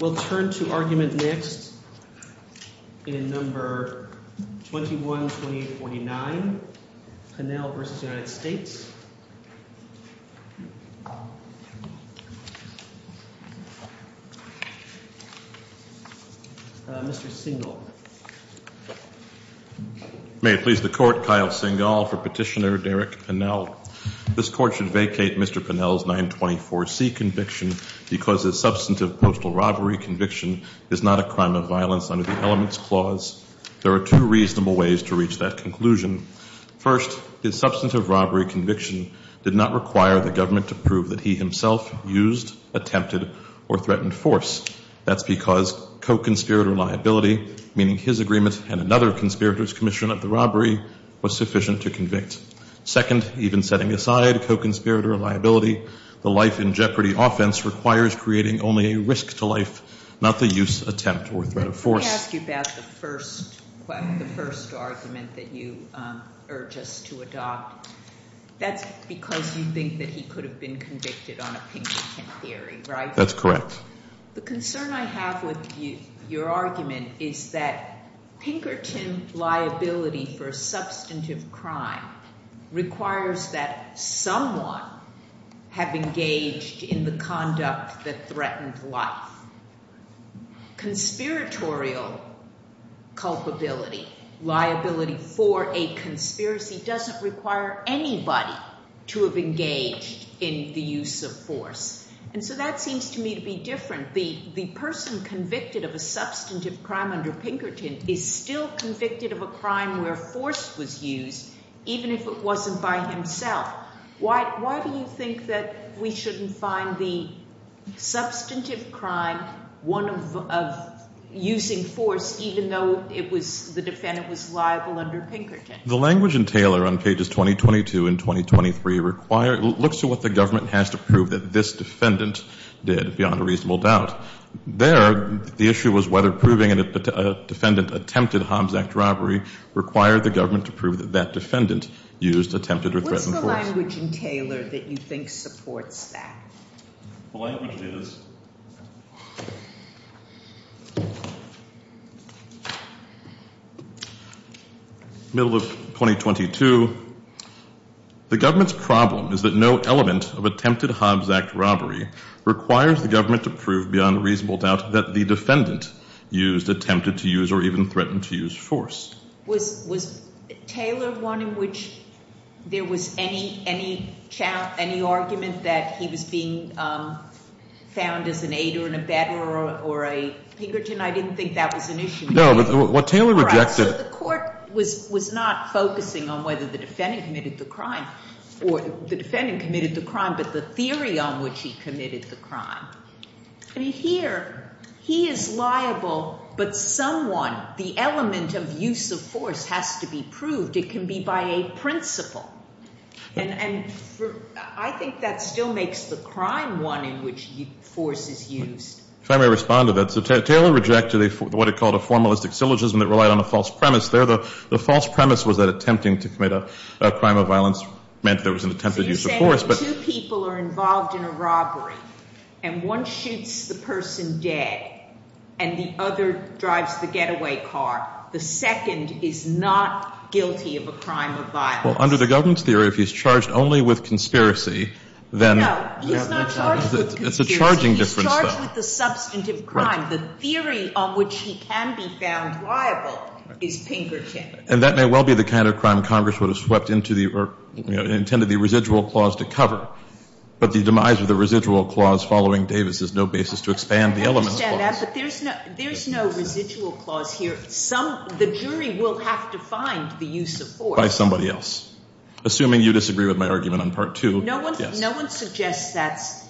We'll turn to argument next in No. 21-2049, Pinnell v. United States. Mr. Singal. May it please the Court, Kyle Singal for Petitioner Derek Pinnell. This Court should vacate Mr. Pinnell's 924C conviction because his substantive postal robbery conviction is not a crime of violence under the Elements Clause. There are two reasonable ways to reach that conclusion. First, his substantive robbery conviction did not require the government to prove that he himself used, attempted, or threatened force. That's because co-conspirator liability, meaning his agreement and another conspirator's commission of the robbery, was sufficient to convict. Second, even setting aside co-conspirator liability, the life-in-jeopardy offense requires creating only a risk to life, not the use, attempt, or threat of force. Let me ask you about the first argument that you urge us to adopt. That's because you think that he could have been convicted on a Pinkerton theory, right? That's correct. The concern I have with your argument is that Pinkerton liability for a substantive crime requires that someone have engaged in the conduct that threatened life. Conspiratorial culpability, liability for a conspiracy, doesn't require anybody to have engaged in the use of force. And so that seems to me to be different. The person convicted of a substantive crime under Pinkerton is still convicted of a crime where force was used, even if it wasn't by himself. Why do you think that we shouldn't find the substantive crime one of using force, even though the defendant was liable under Pinkerton? The language in Taylor on pages 2022 and 2023 looks to what the government has to prove that this defendant did, beyond a reasonable doubt. There, the issue was whether proving a defendant attempted a Hobbs Act robbery required the government to prove that that defendant used, attempted, or threatened force. What's the language in Taylor that you think supports that? The language is. Middle of 2022. The government's problem is that no element of attempted Hobbs Act robbery requires the government to prove beyond reasonable doubt that the defendant used, attempted to use, or even threatened to use force. Was Taylor one in which there was any argument that he was being found as an aider and abetter or a Pinkerton? I didn't think that was an issue. No, but what Taylor rejected. The court was not focusing on whether the defendant committed the crime, or the defendant committed the crime, but the theory on which he committed the crime. I mean, here, he is liable, but someone, the element of use of force, has to be proved. It can be by a principle. And I think that still makes the crime one in which force is used. If I may respond to that. So Taylor rejected what he called a formalistic syllogism that relied on a false premise. There, the false premise was that attempting to commit a crime of violence meant there was an attempted use of force. Two people are involved in a robbery, and one shoots the person dead, and the other drives the getaway car. The second is not guilty of a crime of violence. Well, under the government's theory, if he's charged only with conspiracy, then... No, he's not charged with conspiracy. It's a charging difference, though. He's charged with the substantive crime. The theory on which he can be found liable is Pinkerton. And that may well be the kind of crime Congress would have swept into the, or intended the residual clause to cover. But the demise of the residual clause following Davis is no basis to expand the element of force. I understand that, but there's no residual clause here. Some, the jury will have to find the use of force. By somebody else. Assuming you disagree with my argument on Part 2. No one suggests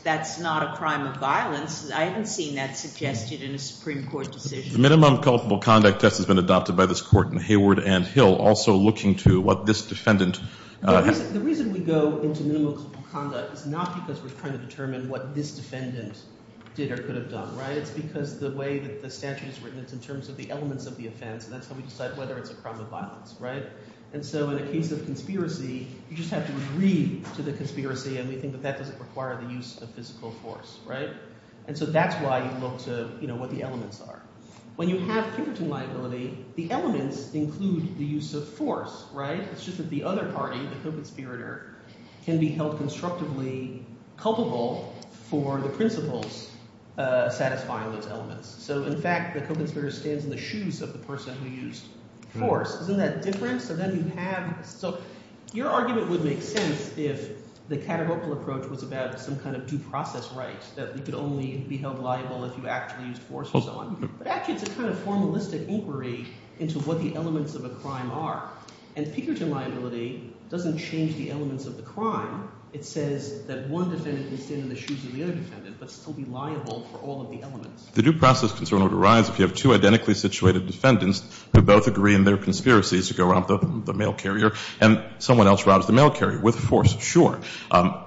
that's not a crime of violence. I haven't seen that suggested in a Supreme Court decision. The minimum culpable conduct test has been adopted by this Court in Hayward and Hill, also looking to what this defendant... The reason we go into minimum culpable conduct is not because we're trying to determine what this defendant did or could have done, right? It's because the way that the statute is written, it's in terms of the elements of the offense, and that's how we decide whether it's a crime of violence, right? And so in a case of conspiracy, you just have to agree to the conspiracy, and we think that that doesn't require the use of physical force, right? And so that's why you look to what the elements are. When you have Pinkerton liability, the elements include the use of force, right? It's just that the other party, the conspirator, can be held constructively culpable for the principles satisfying those elements. So in fact, the conspirator stands in the shoes of the person who used force. Isn't that different? So your argument would make sense if the Katterhopel approach was about some kind of due process right, that you could only be held liable if you actually used force or so on. But actually, it's a kind of formalistic inquiry into what the elements of a crime are. And Pinkerton liability doesn't change the elements of the crime. It says that one defendant can stand in the shoes of the other defendant but still be liable for all of the elements. The due process concern would arise if you have two identically situated defendants who both agree in their conspiracies to go rob the mail carrier and someone else robs the mail carrier with force. Sure.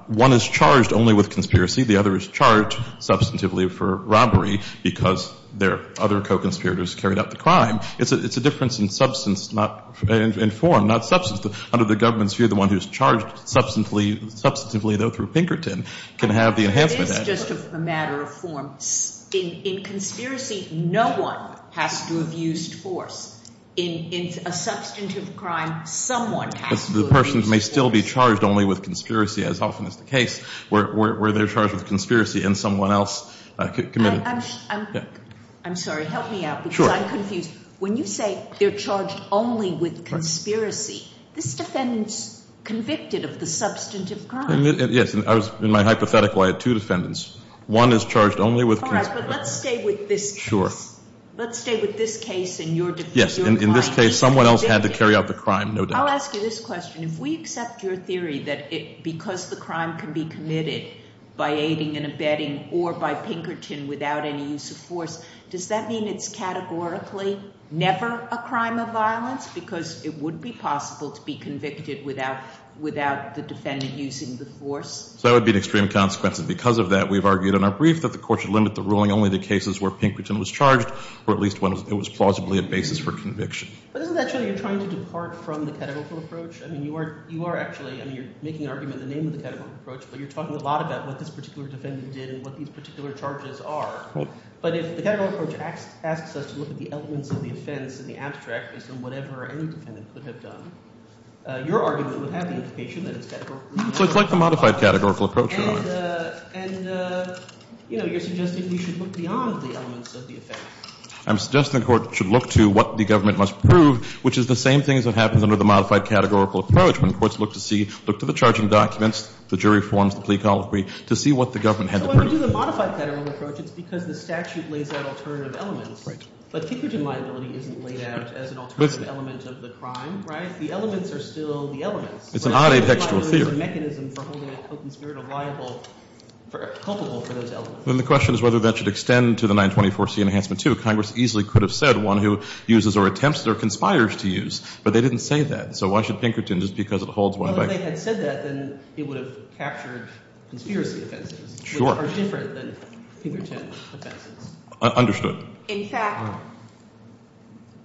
One is charged only with conspiracy. The other is charged substantively for robbery because their other co-conspirators carried out the crime. It's a difference in substance, not in form, not substance. Under the government's view, the one who's charged substantively, though, through Pinkerton can have the enhancement. It is just a matter of form. In conspiracy, no one has to have used force. In a substantive crime, someone has to have used force. The person may still be charged only with conspiracy, as often is the case, where they're charged with conspiracy and someone else committed. I'm sorry. Help me out because I'm confused. Sure. When you say they're charged only with conspiracy, this defendant's convicted of the substantive crime. Yes. In my hypothetical, I had two defendants. One is charged only with conspiracy. All right, but let's stay with this case. Sure. Let's stay with this case. Yes. In this case, someone else had to carry out the crime, no doubt. I'll ask you this question. If we accept your theory that because the crime can be committed by aiding and abetting or by Pinkerton without any use of force, does that mean it's categorically never a crime of violence? Because it would be possible to be convicted without the defendant using the force. So that would be an extreme consequence. And because of that, we've argued in our brief that the Court should limit the ruling only to cases where Pinkerton was charged or at least when it was plausibly a basis for conviction. But isn't that showing you're trying to depart from the categorical approach? I mean, you are actually – I mean, you're making an argument in the name of the categorical approach, but you're talking a lot about what this particular defendant did and what these particular charges are. Right. But if the categorical approach asks us to look at the elements of the offense in the abstract based on whatever any defendant could have done, your argument would have the implication that it's categorically never a crime. So it's like the modified categorical approach, right? And you're suggesting we should look beyond the elements of the offense. I'm suggesting the Court should look to what the government must prove, which is the same things that happens under the modified categorical approach when courts look to see – look to the charging documents, the jury forms, the plea colloquy, to see what the government had to prove. But when we do the modified categorical approach, it's because the statute lays out alternative elements. Right. But Pinkerton liability isn't laid out as an alternative element of the crime, right? The elements are still the elements. It's an odd adhextual theory. It's a mechanism for holding a conspirator liable – culpable for those elements. Then the question is whether that should extend to the 924C Enhancement 2. Congress easily could have said one who uses or attempts or conspires to use, but they didn't say that. So why should Pinkerton? Just because it holds one by – Well, if they had said that, then it would have captured conspiracy offenses. Sure. Which are different than Pinkerton offenses. Understood. In fact,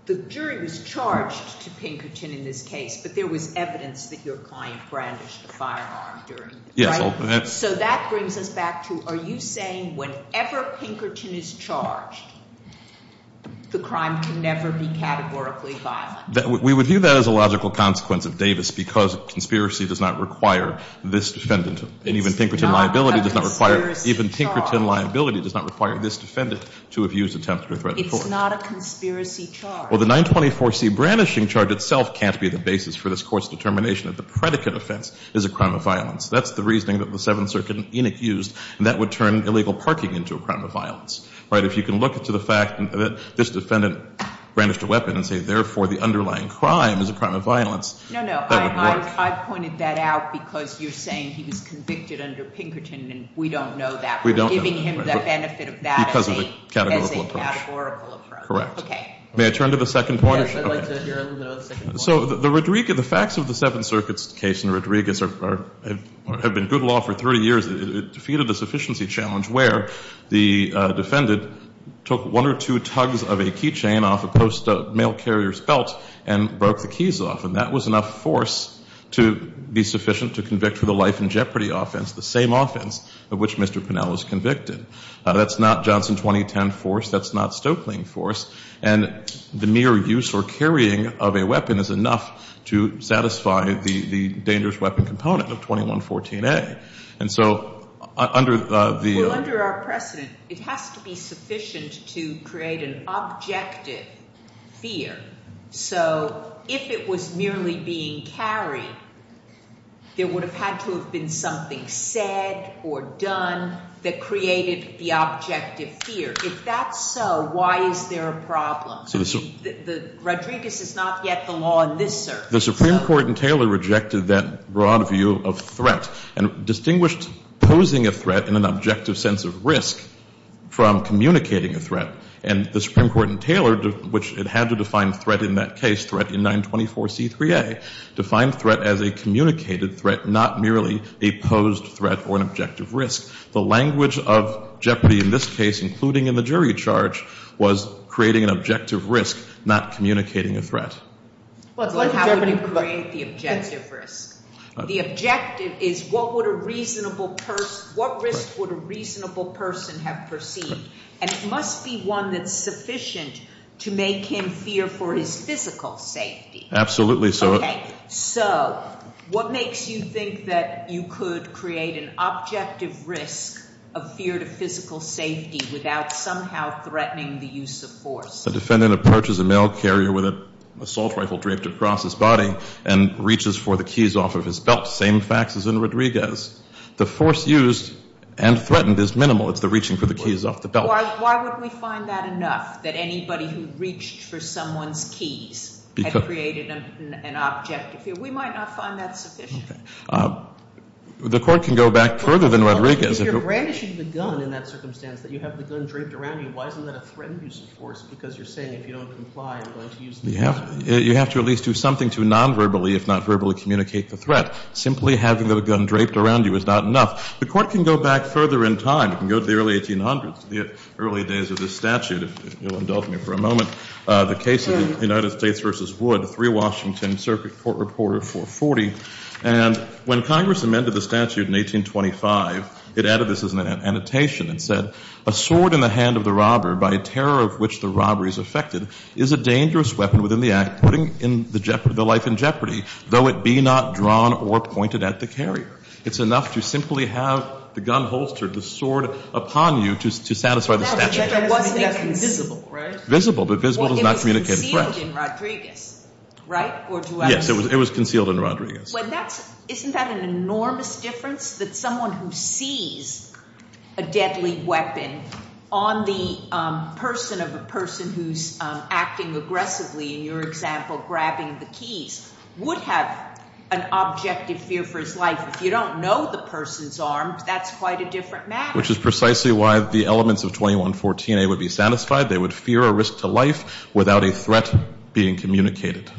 the jury was charged to Pinkerton in this case, but there was evidence that your client brandished a firearm during it. Yes. So that brings us back to, are you saying whenever Pinkerton is charged, the crime can never be categorically violent? We would view that as a logical consequence of Davis because conspiracy does not require this defendant. And even Pinkerton liability does not require – It's not a conspiracy charge. Even Pinkerton liability does not require this defendant to have used, attempted or threatened. It's not a conspiracy charge. Well, the 924C brandishing charge itself can't be the basis for this Court's determination that the predicate offense is a crime of violence. That's the reasoning that the Seventh Circuit in Enick used, and that would turn illegal parking into a crime of violence. Right? If you can look to the fact that this defendant brandished a weapon and say, therefore, the underlying crime is a crime of violence. No, no. I pointed that out because you're saying he was convicted under Pinkerton, and we don't know that. We don't know. We're giving him the benefit of that as a categorical approach. Correct. Okay. May I turn to the second point? Yes. I'd like to hear a little bit on the second point. So the facts of the Seventh Circuit's case in Rodriguez have been good law for 30 years. It defeated the sufficiency challenge where the defendant took one or two tugs of a key chain off a post of a mail carrier's belt and broke the keys off, and that was enough force to be sufficient to convict for the life and jeopardy offense, the same offense of which Mr. Pinell was convicted. That's not Johnson 2010 force. That's not Stoeckling force. And the mere use or carrying of a weapon is enough to satisfy the dangerous weapon component of 2114A. And so under the — Well, under our precedent, it has to be sufficient to create an objective fear. So if it was merely being carried, there would have had to have been something said or done that created the objective fear. If that's so, why is there a problem? I mean, Rodriguez is not yet the law in this circuit. The Supreme Court in Taylor rejected that broad view of threat and distinguished posing a threat in an objective sense of risk from communicating a threat. And the Supreme Court in Taylor, which it had to define threat in that case, threat in 924C3A, defined threat as a communicated threat, not merely a posed threat or an objective risk. The language of jeopardy in this case, including in the jury charge, was creating an objective risk, not communicating a threat. So how would you create the objective risk? The objective is what would a reasonable person — what risk would a reasonable person have perceived? And it must be one that's sufficient to make him fear for his physical safety. Absolutely. Okay. So what makes you think that you could create an objective risk of fear to physical safety without somehow threatening the use of force? The defendant approaches a mail carrier with an assault rifle draped across his body and reaches for the keys off of his belt, same facts as in Rodriguez. The force used and threatened is minimal. It's the reaching for the keys off the belt. Why wouldn't we find that enough, that anybody who reached for someone's keys had created an objective fear? We might not find that sufficient. The court can go back further than Rodriguez. If you're brandishing the gun in that circumstance, that you have the gun draped around you, why isn't that a threatened use of force? Because you're saying if you don't comply, you're going to use the gun. You have to at least do something to nonverbally, if not verbally, communicate the threat. Simply having the gun draped around you is not enough. The court can go back further in time. You can go to the early 1800s, the early days of this statute. If you'll indulge me for a moment, the case of the United States v. Wood, 3 Washington Circuit Court Reporter 440. And when Congress amended the statute in 1825, it added this as an annotation. It said, A sword in the hand of the robber, by terror of which the robber is affected, is a dangerous weapon within the act, putting the life in jeopardy, though it be not drawn or pointed at the carrier. It's enough to simply have the gun holstered, the sword upon you, to satisfy the statute. It wasn't visible, right? Visible, but visible does not communicate the threat. Yes, it was concealed in Rodriguez. Isn't that an enormous difference? That someone who sees a deadly weapon on the person of a person who's acting aggressively, in your example, grabbing the keys, would have an objective fear for his life. If you don't know the person's arms, that's quite a different matter. Which is precisely why the elements of 2114A would be satisfied. They would fear a risk to life without a threat being communicated.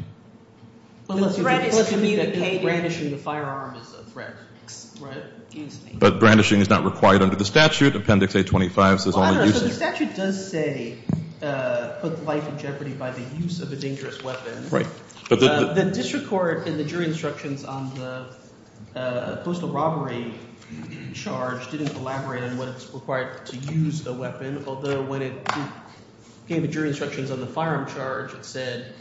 Unless you mean that brandishing the firearm is a threat. Right. Excuse me. But brandishing is not required under the statute. Appendix A25 says only use of it. The statute does say put the life in jeopardy by the use of a dangerous weapon. Right. The district court, in the jury instructions on the postal robbery charge, didn't elaborate on what's required to use the weapon, although when it gave the jury instructions on the firearm charge, it said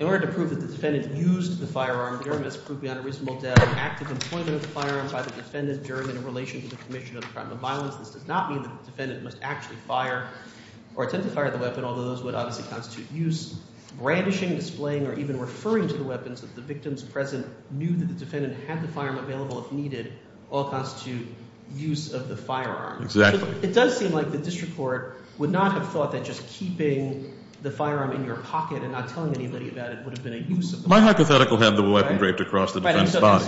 in order to prove that the defendant used the firearm, Durham has proved beyond a reasonable doubt the active employment of the firearm by the defendant, Durham, in relation to the commission of the crime of violence. This does not mean that the defendant must actually fire or attempt to fire the weapon, although those would obviously constitute use. Brandishing, displaying, or even referring to the weapons that the victim's present knew that the defendant had the firearm available if needed all constitute use of the firearm. Exactly. It does seem like the district court would not have thought that just keeping the firearm in your pocket and not telling anybody about it would have been a use of the weapon. My hypothetical had the weapon draped across the defendant's body.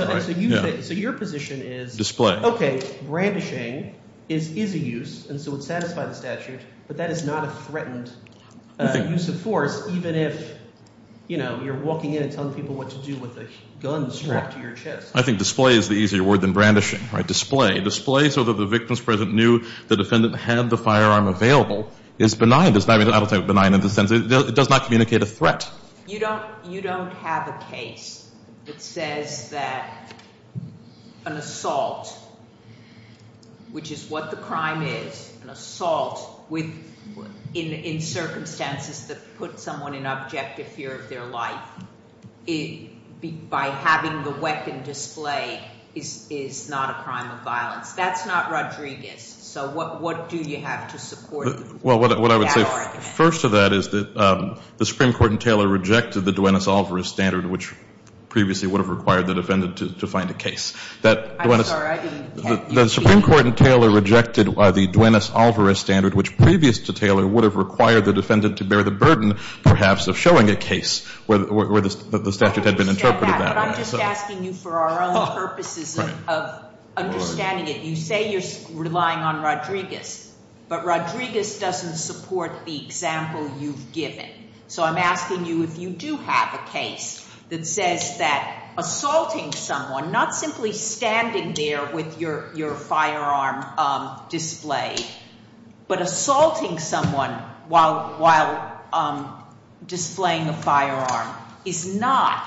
Right. So your position is. Display. Okay. Brandishing is a use and so would satisfy the statute, but that is not a threatened use of force even if, you know, you're walking in and telling people what to do with a gun strapped to your chest. I think display is the easier word than brandishing. Display. Display so that the victim's present knew the defendant had the firearm available is benign. It does not communicate a threat. You don't have a case that says that an assault, which is what the crime is, an assault in circumstances that put someone in objective fear of their life, by having the weapon displayed is not a crime of violence. That's not Rodriguez. So what do you have to support? Well, what I would say first to that is that the Supreme Court in Taylor rejected the Duenas-Alvarez standard, which previously would have required the defendant to find a case. I'm sorry, I didn't catch that. The Supreme Court in Taylor rejected the Duenas-Alvarez standard, which previous to Taylor would have required the defendant to bear the burden, perhaps, of showing a case where the statute had been interpreted that way. I understand that, but I'm just asking you for our own purposes of understanding it. You say you're relying on Rodriguez, but Rodriguez doesn't support the example you've given. So I'm asking you if you do have a case that says that assaulting someone, not simply standing there with your firearm displayed, but assaulting someone while displaying a firearm is not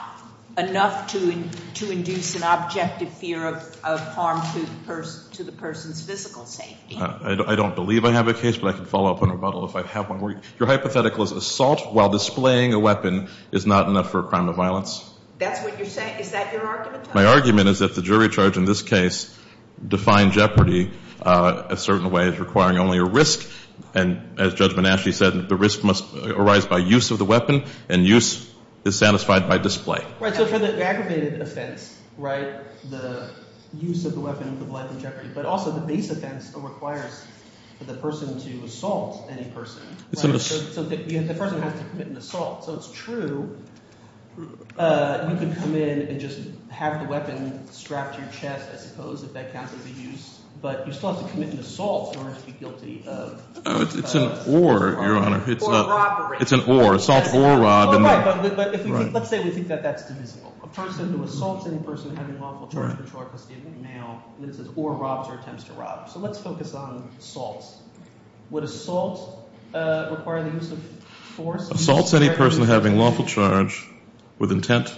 enough to induce an objective fear of harm to the person's physical safety. I don't believe I have a case, but I can follow up on a rebuttal if I have one. Your hypothetical is assault while displaying a weapon is not enough for a crime of violence? That's what you're saying. Is that your argument? My argument is that the jury charge in this case, defying jeopardy a certain way, is requiring only a risk. And as Judge Bonasci said, the risk must arise by use of the weapon, and use is satisfied by display. Right, so for the aggravated offense, right, the use of the weapon of life and jeopardy, but also the base offense requires the person to assault any person. So the person has to commit an assault. So it's true you can come in and just have the weapon strapped to your chest, I suppose, if that counts as a use, but you still have to commit an assault in order to be guilty of- It's an or, Your Honor. Or robbery. It's an or. Assault or robbing. Right, but let's say we think that that's divisible. A person who assaults any person having lawful charge of patrol or custody of a male, and it says or robs or attempts to rob. So let's focus on assaults. Would assault require the use of force? Assaults any person having lawful charge with intent.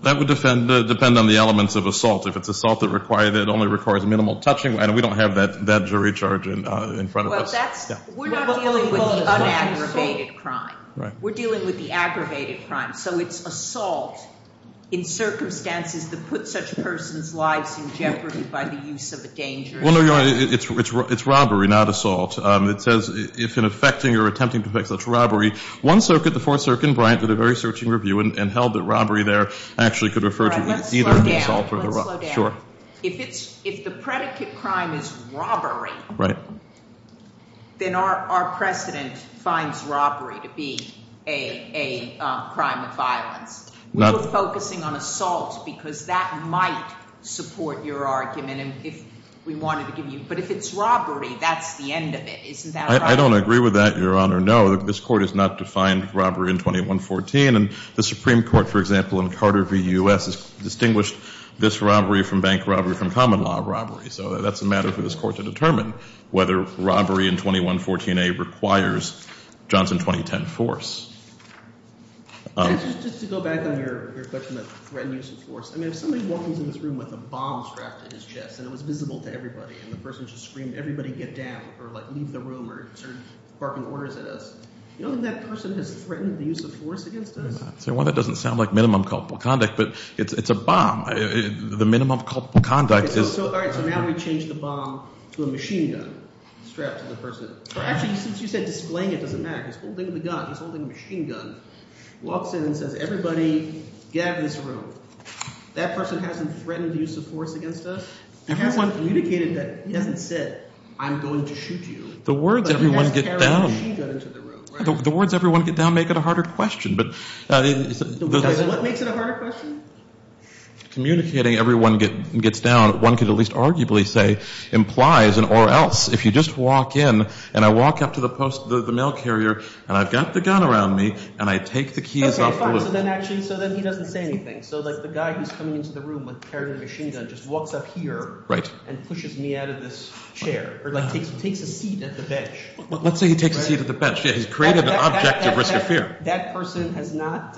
That would depend on the elements of assault. If it's assault that only requires minimal touching, we don't have that jury charge in front of us. Well, that's- We're not dealing with the unaggravated crime. Right. We're dealing with the aggravated crime. So it's assault in circumstances that put such person's lives in jeopardy by the use of a dangerous weapon. Well, no, Your Honor, it's robbery, not assault. It says if in effecting or attempting to effect such robbery, one circuit, the Fourth Circuit, and Bryant did a very searching review and held that robbery there actually could refer to either the assault or the robbery. All right, let's slow down. Sure. If the predicate crime is robbery- Right. Then our precedent finds robbery to be a crime of violence. We were focusing on assault because that might support your argument if we wanted to give you- But if it's robbery, that's the end of it. Isn't that a robbery? I don't agree with that, Your Honor. No, this Court has not defined robbery in 2114. And the Supreme Court, for example, in Carter v. U.S. has distinguished this robbery from bank robbery from common law robbery. So that's a matter for this Court to determine whether robbery in 2114a requires Johnson 2010 force. Just to go back on your question of threat and use of force, I mean if somebody walks into this room with a bomb strapped to his chest and it was visible to everybody and the person just screamed everybody get down or leave the room or started barking orders at us, you don't think that person has threatened the use of force against us? Well, that doesn't sound like minimum culpable conduct, but it's a bomb. The minimum culpable conduct is- All right, so now we change the bomb to a machine gun strapped to the person. Actually, since you said displaying it, it doesn't matter. He's holding the gun. He's holding a machine gun. He walks in and says everybody get out of this room. That person hasn't threatened the use of force against us. He hasn't communicated that. He hasn't said I'm going to shoot you. The words everyone get down make it a harder question. What makes it a harder question? Communicating everyone gets down, one could at least arguably say, implies and or else if you just walk in and I walk up to the mail carrier and I've got the gun around me and I take the keys off- So then he doesn't say anything. So the guy who's coming into the room with the carrier and the machine gun just walks up here and pushes me out of this chair or takes a seat at the bench. Let's say he takes a seat at the bench. He's created an object of risk or fear. That person has not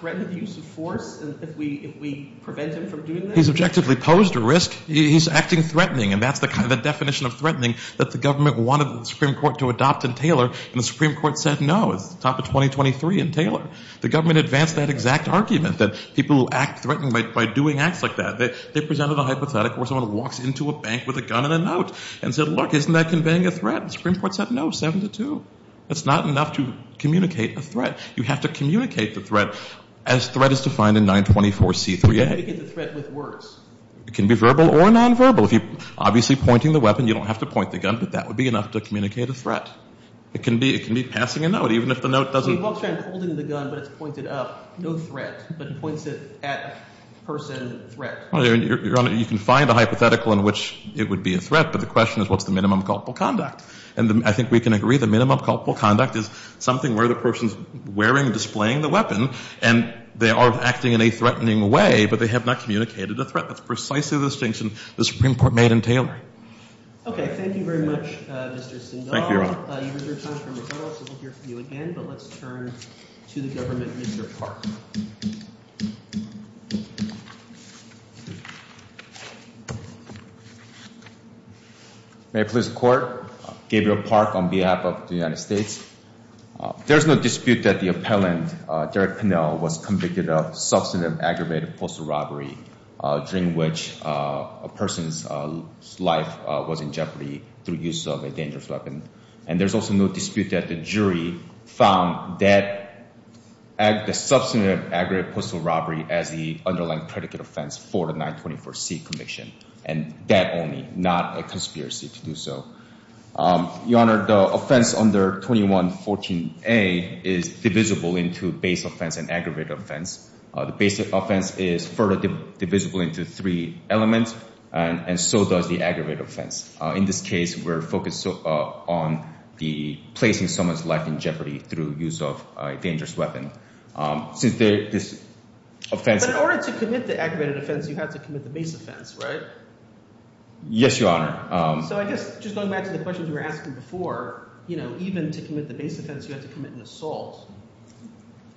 threatened the use of force if we prevent him from doing that? He's objectively posed a risk. He's acting threatening and that's the definition of threatening that the government wanted the Supreme Court to adopt in Taylor and the Supreme Court said no. It's the top of 2023 in Taylor. The government advanced that exact argument that people who act threatening by doing acts like that, they presented a hypothetical where someone walks into a bank with a gun and a note and said, look, isn't that conveying a threat? The Supreme Court said no, 7 to 2. That's not enough to communicate a threat. You have to communicate the threat as threat is defined in 924C3A. How do you get the threat with words? It can be verbal or nonverbal. If you're obviously pointing the weapon, you don't have to point the gun, but that would be enough to communicate a threat. It can be passing a note even if the note doesn't. So he walks around holding the gun, but it's pointed up. No threat, but points it at person threat. Your Honor, you can find a hypothetical in which it would be a threat, but the question is what's the minimum culpable conduct? And I think we can agree the minimum culpable conduct is something where the person is wearing, displaying the weapon and they are acting in a threatening way, but they have not communicated a threat. That's precisely the distinction the Supreme Court made in Taylor. Okay. Thank you very much, Mr. Sindal. Thank you, Your Honor. You've reserved time for rebuttals. We'll hear from you again, but let's turn to the government. Mr. Park. May I please report? Gabriel Park on behalf of the United States. There's no dispute that the appellant, Derek Pinnell, was convicted of substantive aggravated postal robbery during which a person's life was in jeopardy through use of a dangerous weapon. And there's also no dispute that the jury found that the substantive aggravated postal robbery as the underlying predicate offense for the 924C conviction, and that only, not a conspiracy to do so. Your Honor, the offense under 2114A is divisible into base offense and aggravated offense. The basic offense is further divisible into three elements, and so does the aggravated offense. In this case, we're focused on the placing someone's life in jeopardy through use of a dangerous weapon. But in order to commit the aggravated offense, you have to commit the base offense, right? Yes, Your Honor. So I guess just going back to the questions we were asking before, even to commit the base offense, you have to commit an assault.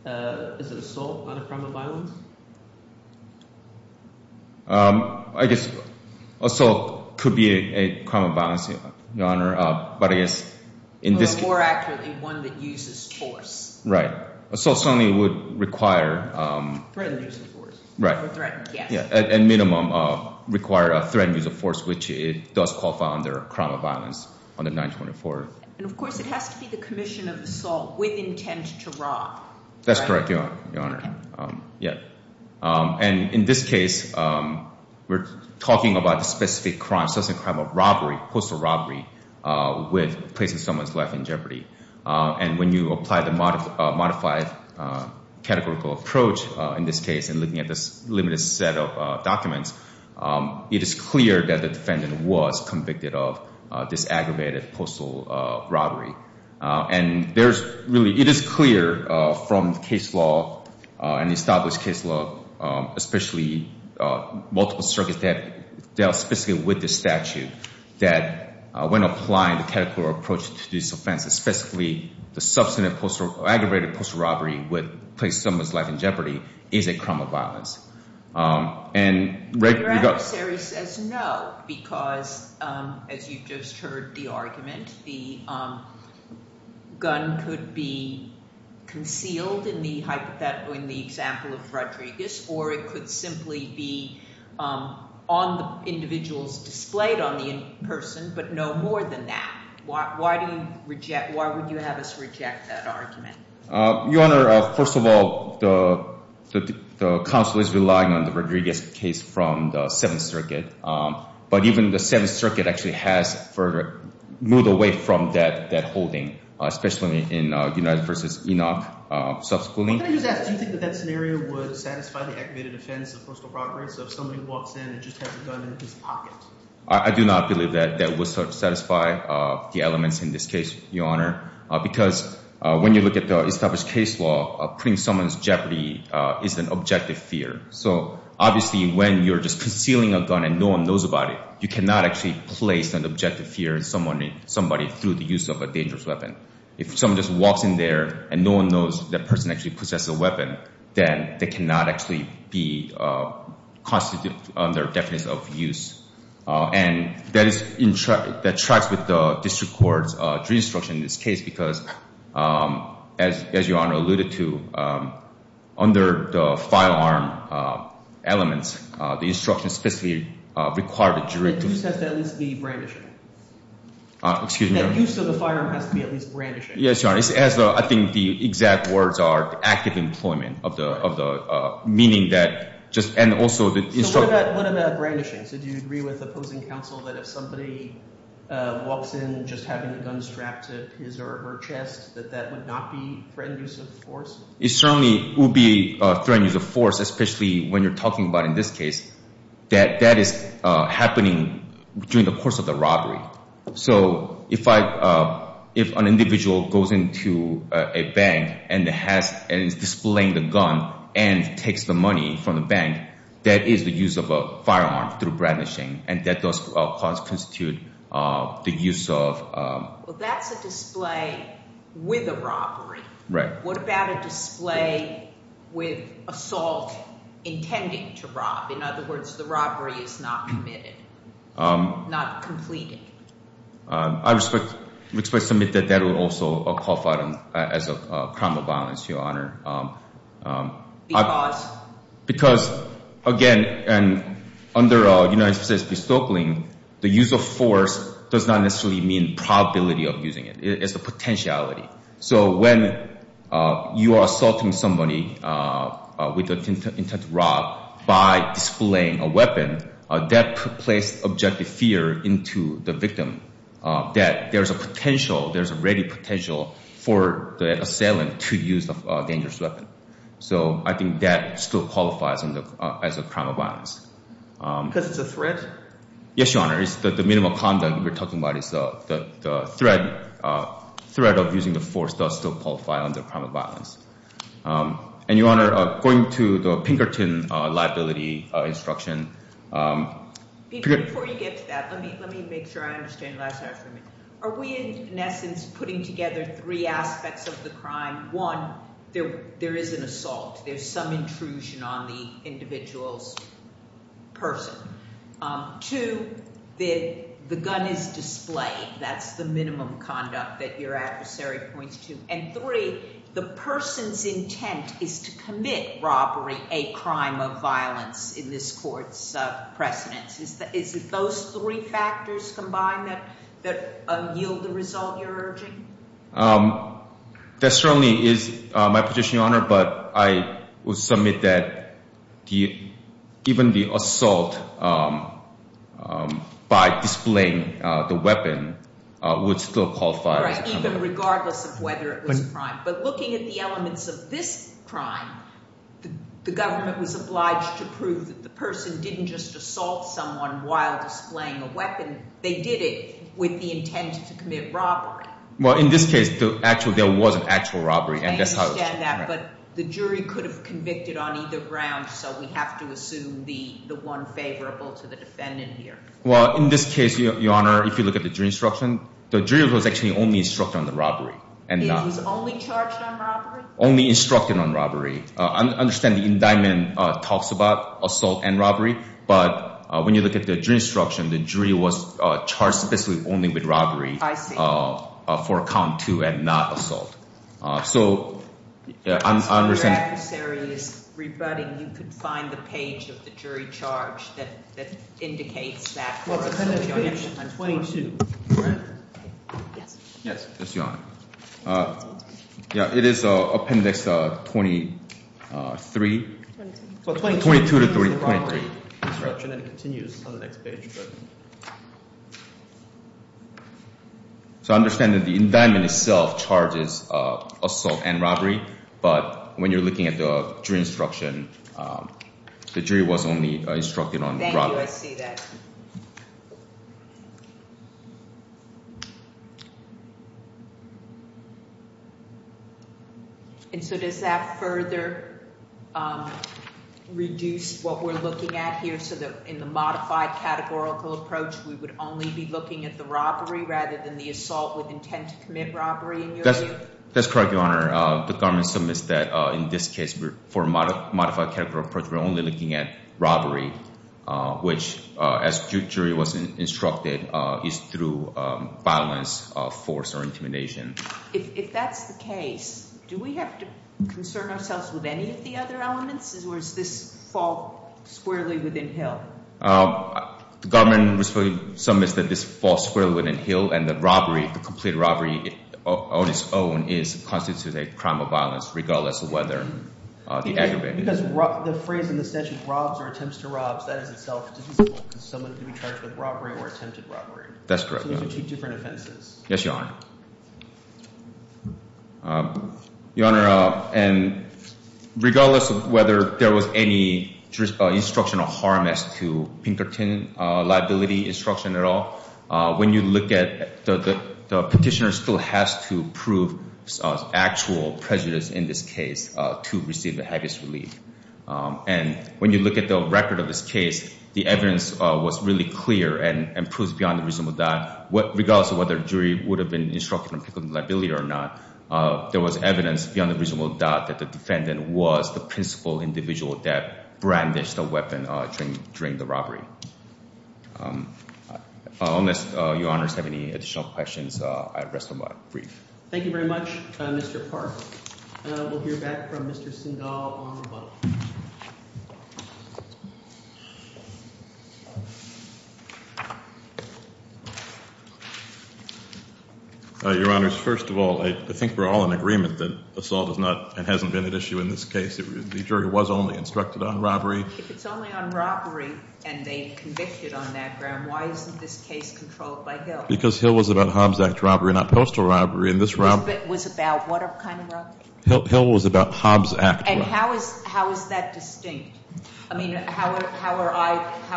Is it assault on a crime of violence? I guess assault could be a crime of violence, Your Honor, but I guess in this case— Or more accurately, one that uses force. Right. Assault certainly would require— Threatened use of force. Right. Or threatened, yes. At minimum, require a threatened use of force, which it does qualify under a crime of violence under 924. And, of course, it has to be the commission of assault with intent to rob. That's correct, Your Honor. And in this case, we're talking about the specific crime, specific crime of robbery, postal robbery, with placing someone's life in jeopardy. And when you apply the modified categorical approach in this case and looking at this limited set of documents, it is clear that the defendant was convicted of this aggravated postal robbery. And there's really—it is clear from the case law and the established case law, especially multiple circuits that deal specifically with this statute, that when applying the categorical approach to this offense, especially the substantive aggravated postal robbery with placing someone's life in jeopardy is a crime of violence. And— Your adversary says no because, as you just heard the argument, the gun could be concealed in the hypothetical, in the example of Rodriguez, or it could simply be on the individuals displayed on the in-person, but no more than that. Why do you reject—why would you have us reject that argument? Your Honor, first of all, the counsel is relying on the Rodriguez case from the Seventh Circuit. But even the Seventh Circuit actually has moved away from that holding, especially in United v. Enoch. What can I just ask? Do you think that that scenario would satisfy the aggravated offense of postal robbery? So if somebody walks in and just has a gun in his pocket? I do not believe that that would satisfy the elements in this case, Your Honor, because when you look at the established case law, putting someone in jeopardy is an objective fear. So obviously when you're just concealing a gun and no one knows about it, you cannot actually place an objective fear in somebody through the use of a dangerous weapon. If someone just walks in there and no one knows that person actually possesses a weapon, then they cannot actually be constituted under the definition of use. And that is—that tracks with the district court's jury instruction in this case because, as Your Honor alluded to, under the firearm elements, the instructions specifically require the jury to— That use has to at least be brandish. Excuse me, Your Honor? That use of the firearm has to be at least brandishing. Yes, Your Honor. I think the exact words are active employment of the—meaning that just—and also the— So what about brandishing? So do you agree with opposing counsel that if somebody walks in just having a gun strapped to his or her chest, that that would not be threatened use of force? It certainly would be threatened use of force, especially when you're talking about in this case, that that is happening during the course of the robbery. So if an individual goes into a bank and is displaying the gun and takes the money from the bank, that is the use of a firearm through brandishing, and that does constitute the use of— Well, that's a display with a robbery. Right. What about a display with assault intending to rob? In other words, the robbery is not committed, not completed. I respect to submit that that would also qualify as a crime of violence, Your Honor. Because? Because, again, under United States v. Stokely, the use of force does not necessarily mean probability of using it. It's the potentiality. So when you are assaulting somebody with the intent to rob by displaying a weapon, that places objective fear into the victim that there's a potential, there's a ready potential for the assailant to use a dangerous weapon. So I think that still qualifies as a crime of violence. Because it's a threat? Yes, Your Honor. It's the minimum conduct we're talking about. It's the threat of using the force does still qualify under crime of violence. And, Your Honor, going to the Pinkerton liability instruction— Before you get to that, let me make sure I understand last night for a minute. Are we, in essence, putting together three aspects of the crime? One, there is an assault. There's some intrusion on the individual's person. Two, the gun is displayed. That's the minimum conduct that your adversary points to. And three, the person's intent is to commit robbery, a crime of violence, in this court's precedence. Is it those three factors combined that yield the result you're urging? That certainly is my position, Your Honor. But I would submit that even the assault by displaying the weapon would still qualify as a crime. Right, even regardless of whether it was a crime. But looking at the elements of this crime, the government was obliged to prove that the person didn't just assault someone while displaying a weapon. They did it with the intent to commit robbery. Well, in this case, there was an actual robbery. I understand that, but the jury could have convicted on either ground, so we have to assume the one favorable to the defendant here. Well, in this case, Your Honor, if you look at the jury instruction, the jury was actually only instructed on the robbery. It was only charged on robbery? I understand the indictment talks about assault and robbery, but when you look at the jury instruction, the jury was charged specifically only with robbery. I see. For count two and not assault. So, I understand- If your adversary is rebutting, you could find the page of the jury charge that indicates that. Well, appendix page 22. Yes, yes, Your Honor. Yeah, it is appendix 23. 22 to 23. And it continues on the next page. So, I understand that the indictment itself charges assault and robbery, but when you're looking at the jury instruction, the jury was only instructed on robbery. Thank you. I see that. And so, does that further reduce what we're looking at here, so that in the modified categorical approach, we would only be looking at the robbery rather than the assault with intent to commit robbery in your view? That's correct, Your Honor. The government submits that in this case, for a modified categorical approach, we're only looking at robbery, which, as the jury was instructed, is through violence, force, or intimidation. If that's the case, do we have to concern ourselves with any of the other elements, or does this fall squarely within Hill? The government submits that this falls squarely within Hill, and that robbery, complete robbery on its own, constitutes a crime of violence, regardless of whether the aggravated- Because the phrase in the statute, robs or attempts to rob, that is itself divisible because someone could be charged with robbery or attempted robbery. That's correct, Your Honor. So those are two different offenses. Yes, Your Honor. Your Honor, regardless of whether there was any instructional harm as to Pinkerton liability instruction at all, when you look at the petitioner still has to prove actual prejudice in this case to receive the heaviest relief. And when you look at the record of this case, the evidence was really clear and proves beyond a reasonable doubt, regardless of whether the jury would have been instructed on Pinkerton liability or not, there was evidence beyond a reasonable doubt that the defendant was the principal individual that brandished a weapon during the robbery. Unless Your Honors have any additional questions, I rest my brief. Thank you very much, Mr. Park. We'll hear back from Mr. Sindahl along the way. Your Honors, first of all, I think we're all in agreement that assault is not and hasn't been an issue in this case. The jury was only instructed on robbery. If it's only on robbery and they convicted on that ground, why isn't this case controlled by Hill? Because Hill was about Hobbs Act robbery, not postal robbery, and this robbery- Hill was about what kind of robbery? Hill was about Hobbs Act robbery. And how is that distinct? I mean, how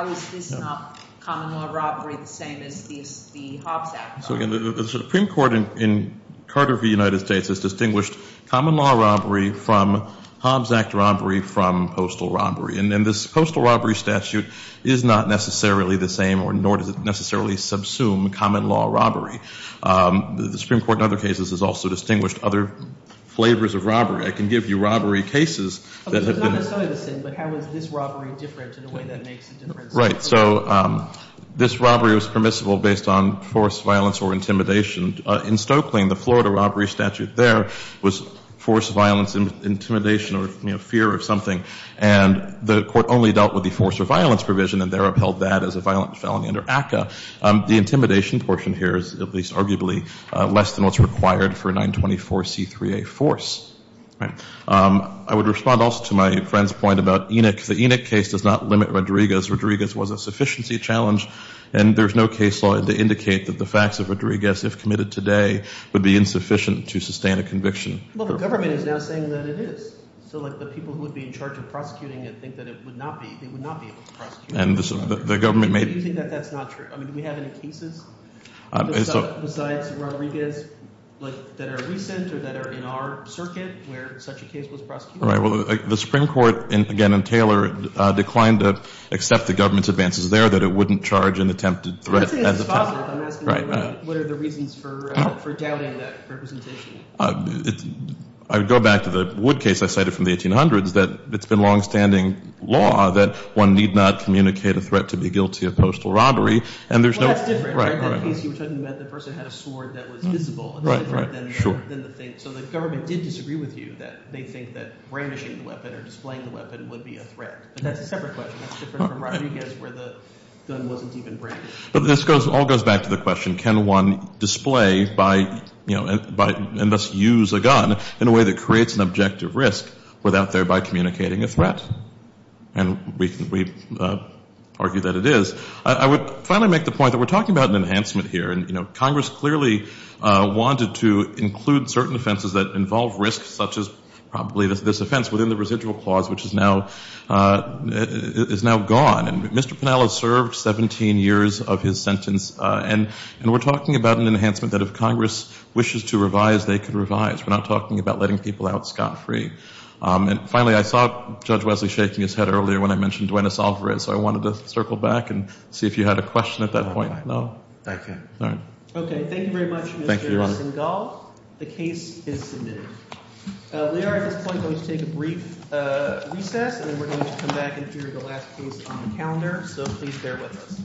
is this not common law robbery the same as the Hobbs Act robbery? The Supreme Court in Carter v. United States has distinguished common law robbery from Hobbs Act robbery from postal robbery. And this postal robbery statute is not necessarily the same, nor does it necessarily subsume common law robbery. The Supreme Court in other cases has also distinguished other flavors of robbery. I can give you robbery cases that have been- It's not necessarily the same, but how is this robbery different in a way that makes a difference? Right. So this robbery was permissible based on force, violence, or intimidation. In Stokelying, the Florida robbery statute there was force, violence, intimidation, or fear of something. And the Court only dealt with the force or violence provision, and there upheld that as a violent felony under ACCA. The intimidation portion here is at least arguably less than what's required for a 924C3A force. I would respond also to my friend's point about Enoch. The Enoch case does not limit Rodriguez. Rodriguez was a sufficiency challenge, and there's no case law to indicate that the facts of Rodriguez, if committed today, would be insufficient to sustain a conviction. Well, the government is now saying that it is. So like the people who would be in charge of prosecuting it think that it would not be able to prosecute. And the government may- I mean, do we have any cases besides Rodriguez that are recent or that are in our circuit where such a case was prosecuted? Right. Well, the Supreme Court, again, and Taylor declined to accept the government's advances there, that it wouldn't charge an attempted threat. I'm not saying it's impossible. I'm asking what are the reasons for doubting that representation? I would go back to the Wood case I cited from the 1800s, that it's been longstanding law that one need not communicate a threat to be guilty of postal robbery, and there's no- Well, that's different. Right, right. In that case you were talking about, the person had a sword that was visible. Right, right, sure. So the government did disagree with you that they think that brainwashing the weapon or displaying the weapon would be a threat. But that's a separate question. That's different from Rodriguez where the gun wasn't even brainwashed. But this all goes back to the question, can one display by- and thus use a gun in a way that creates an objective risk without thereby communicating a threat? And we argue that it is. I would finally make the point that we're talking about an enhancement here. And, you know, Congress clearly wanted to include certain offenses that involve risk, such as probably this offense, within the residual clause, which is now gone. And Mr. Pennell has served 17 years of his sentence, and we're talking about an enhancement that if Congress wishes to revise, they can revise. We're not talking about letting people out scot-free. And finally, I saw Judge Wesley shaking his head earlier when I mentioned Duenas-Alvarez, so I wanted to circle back and see if you had a question at that point. No? I can't. All right. Okay, thank you very much, Mr. Singal. Thank you, Your Honor. The case is submitted. We are at this point going to take a brief recess, and then we're going to come back and hear the last case on the calendar. So please bear with us.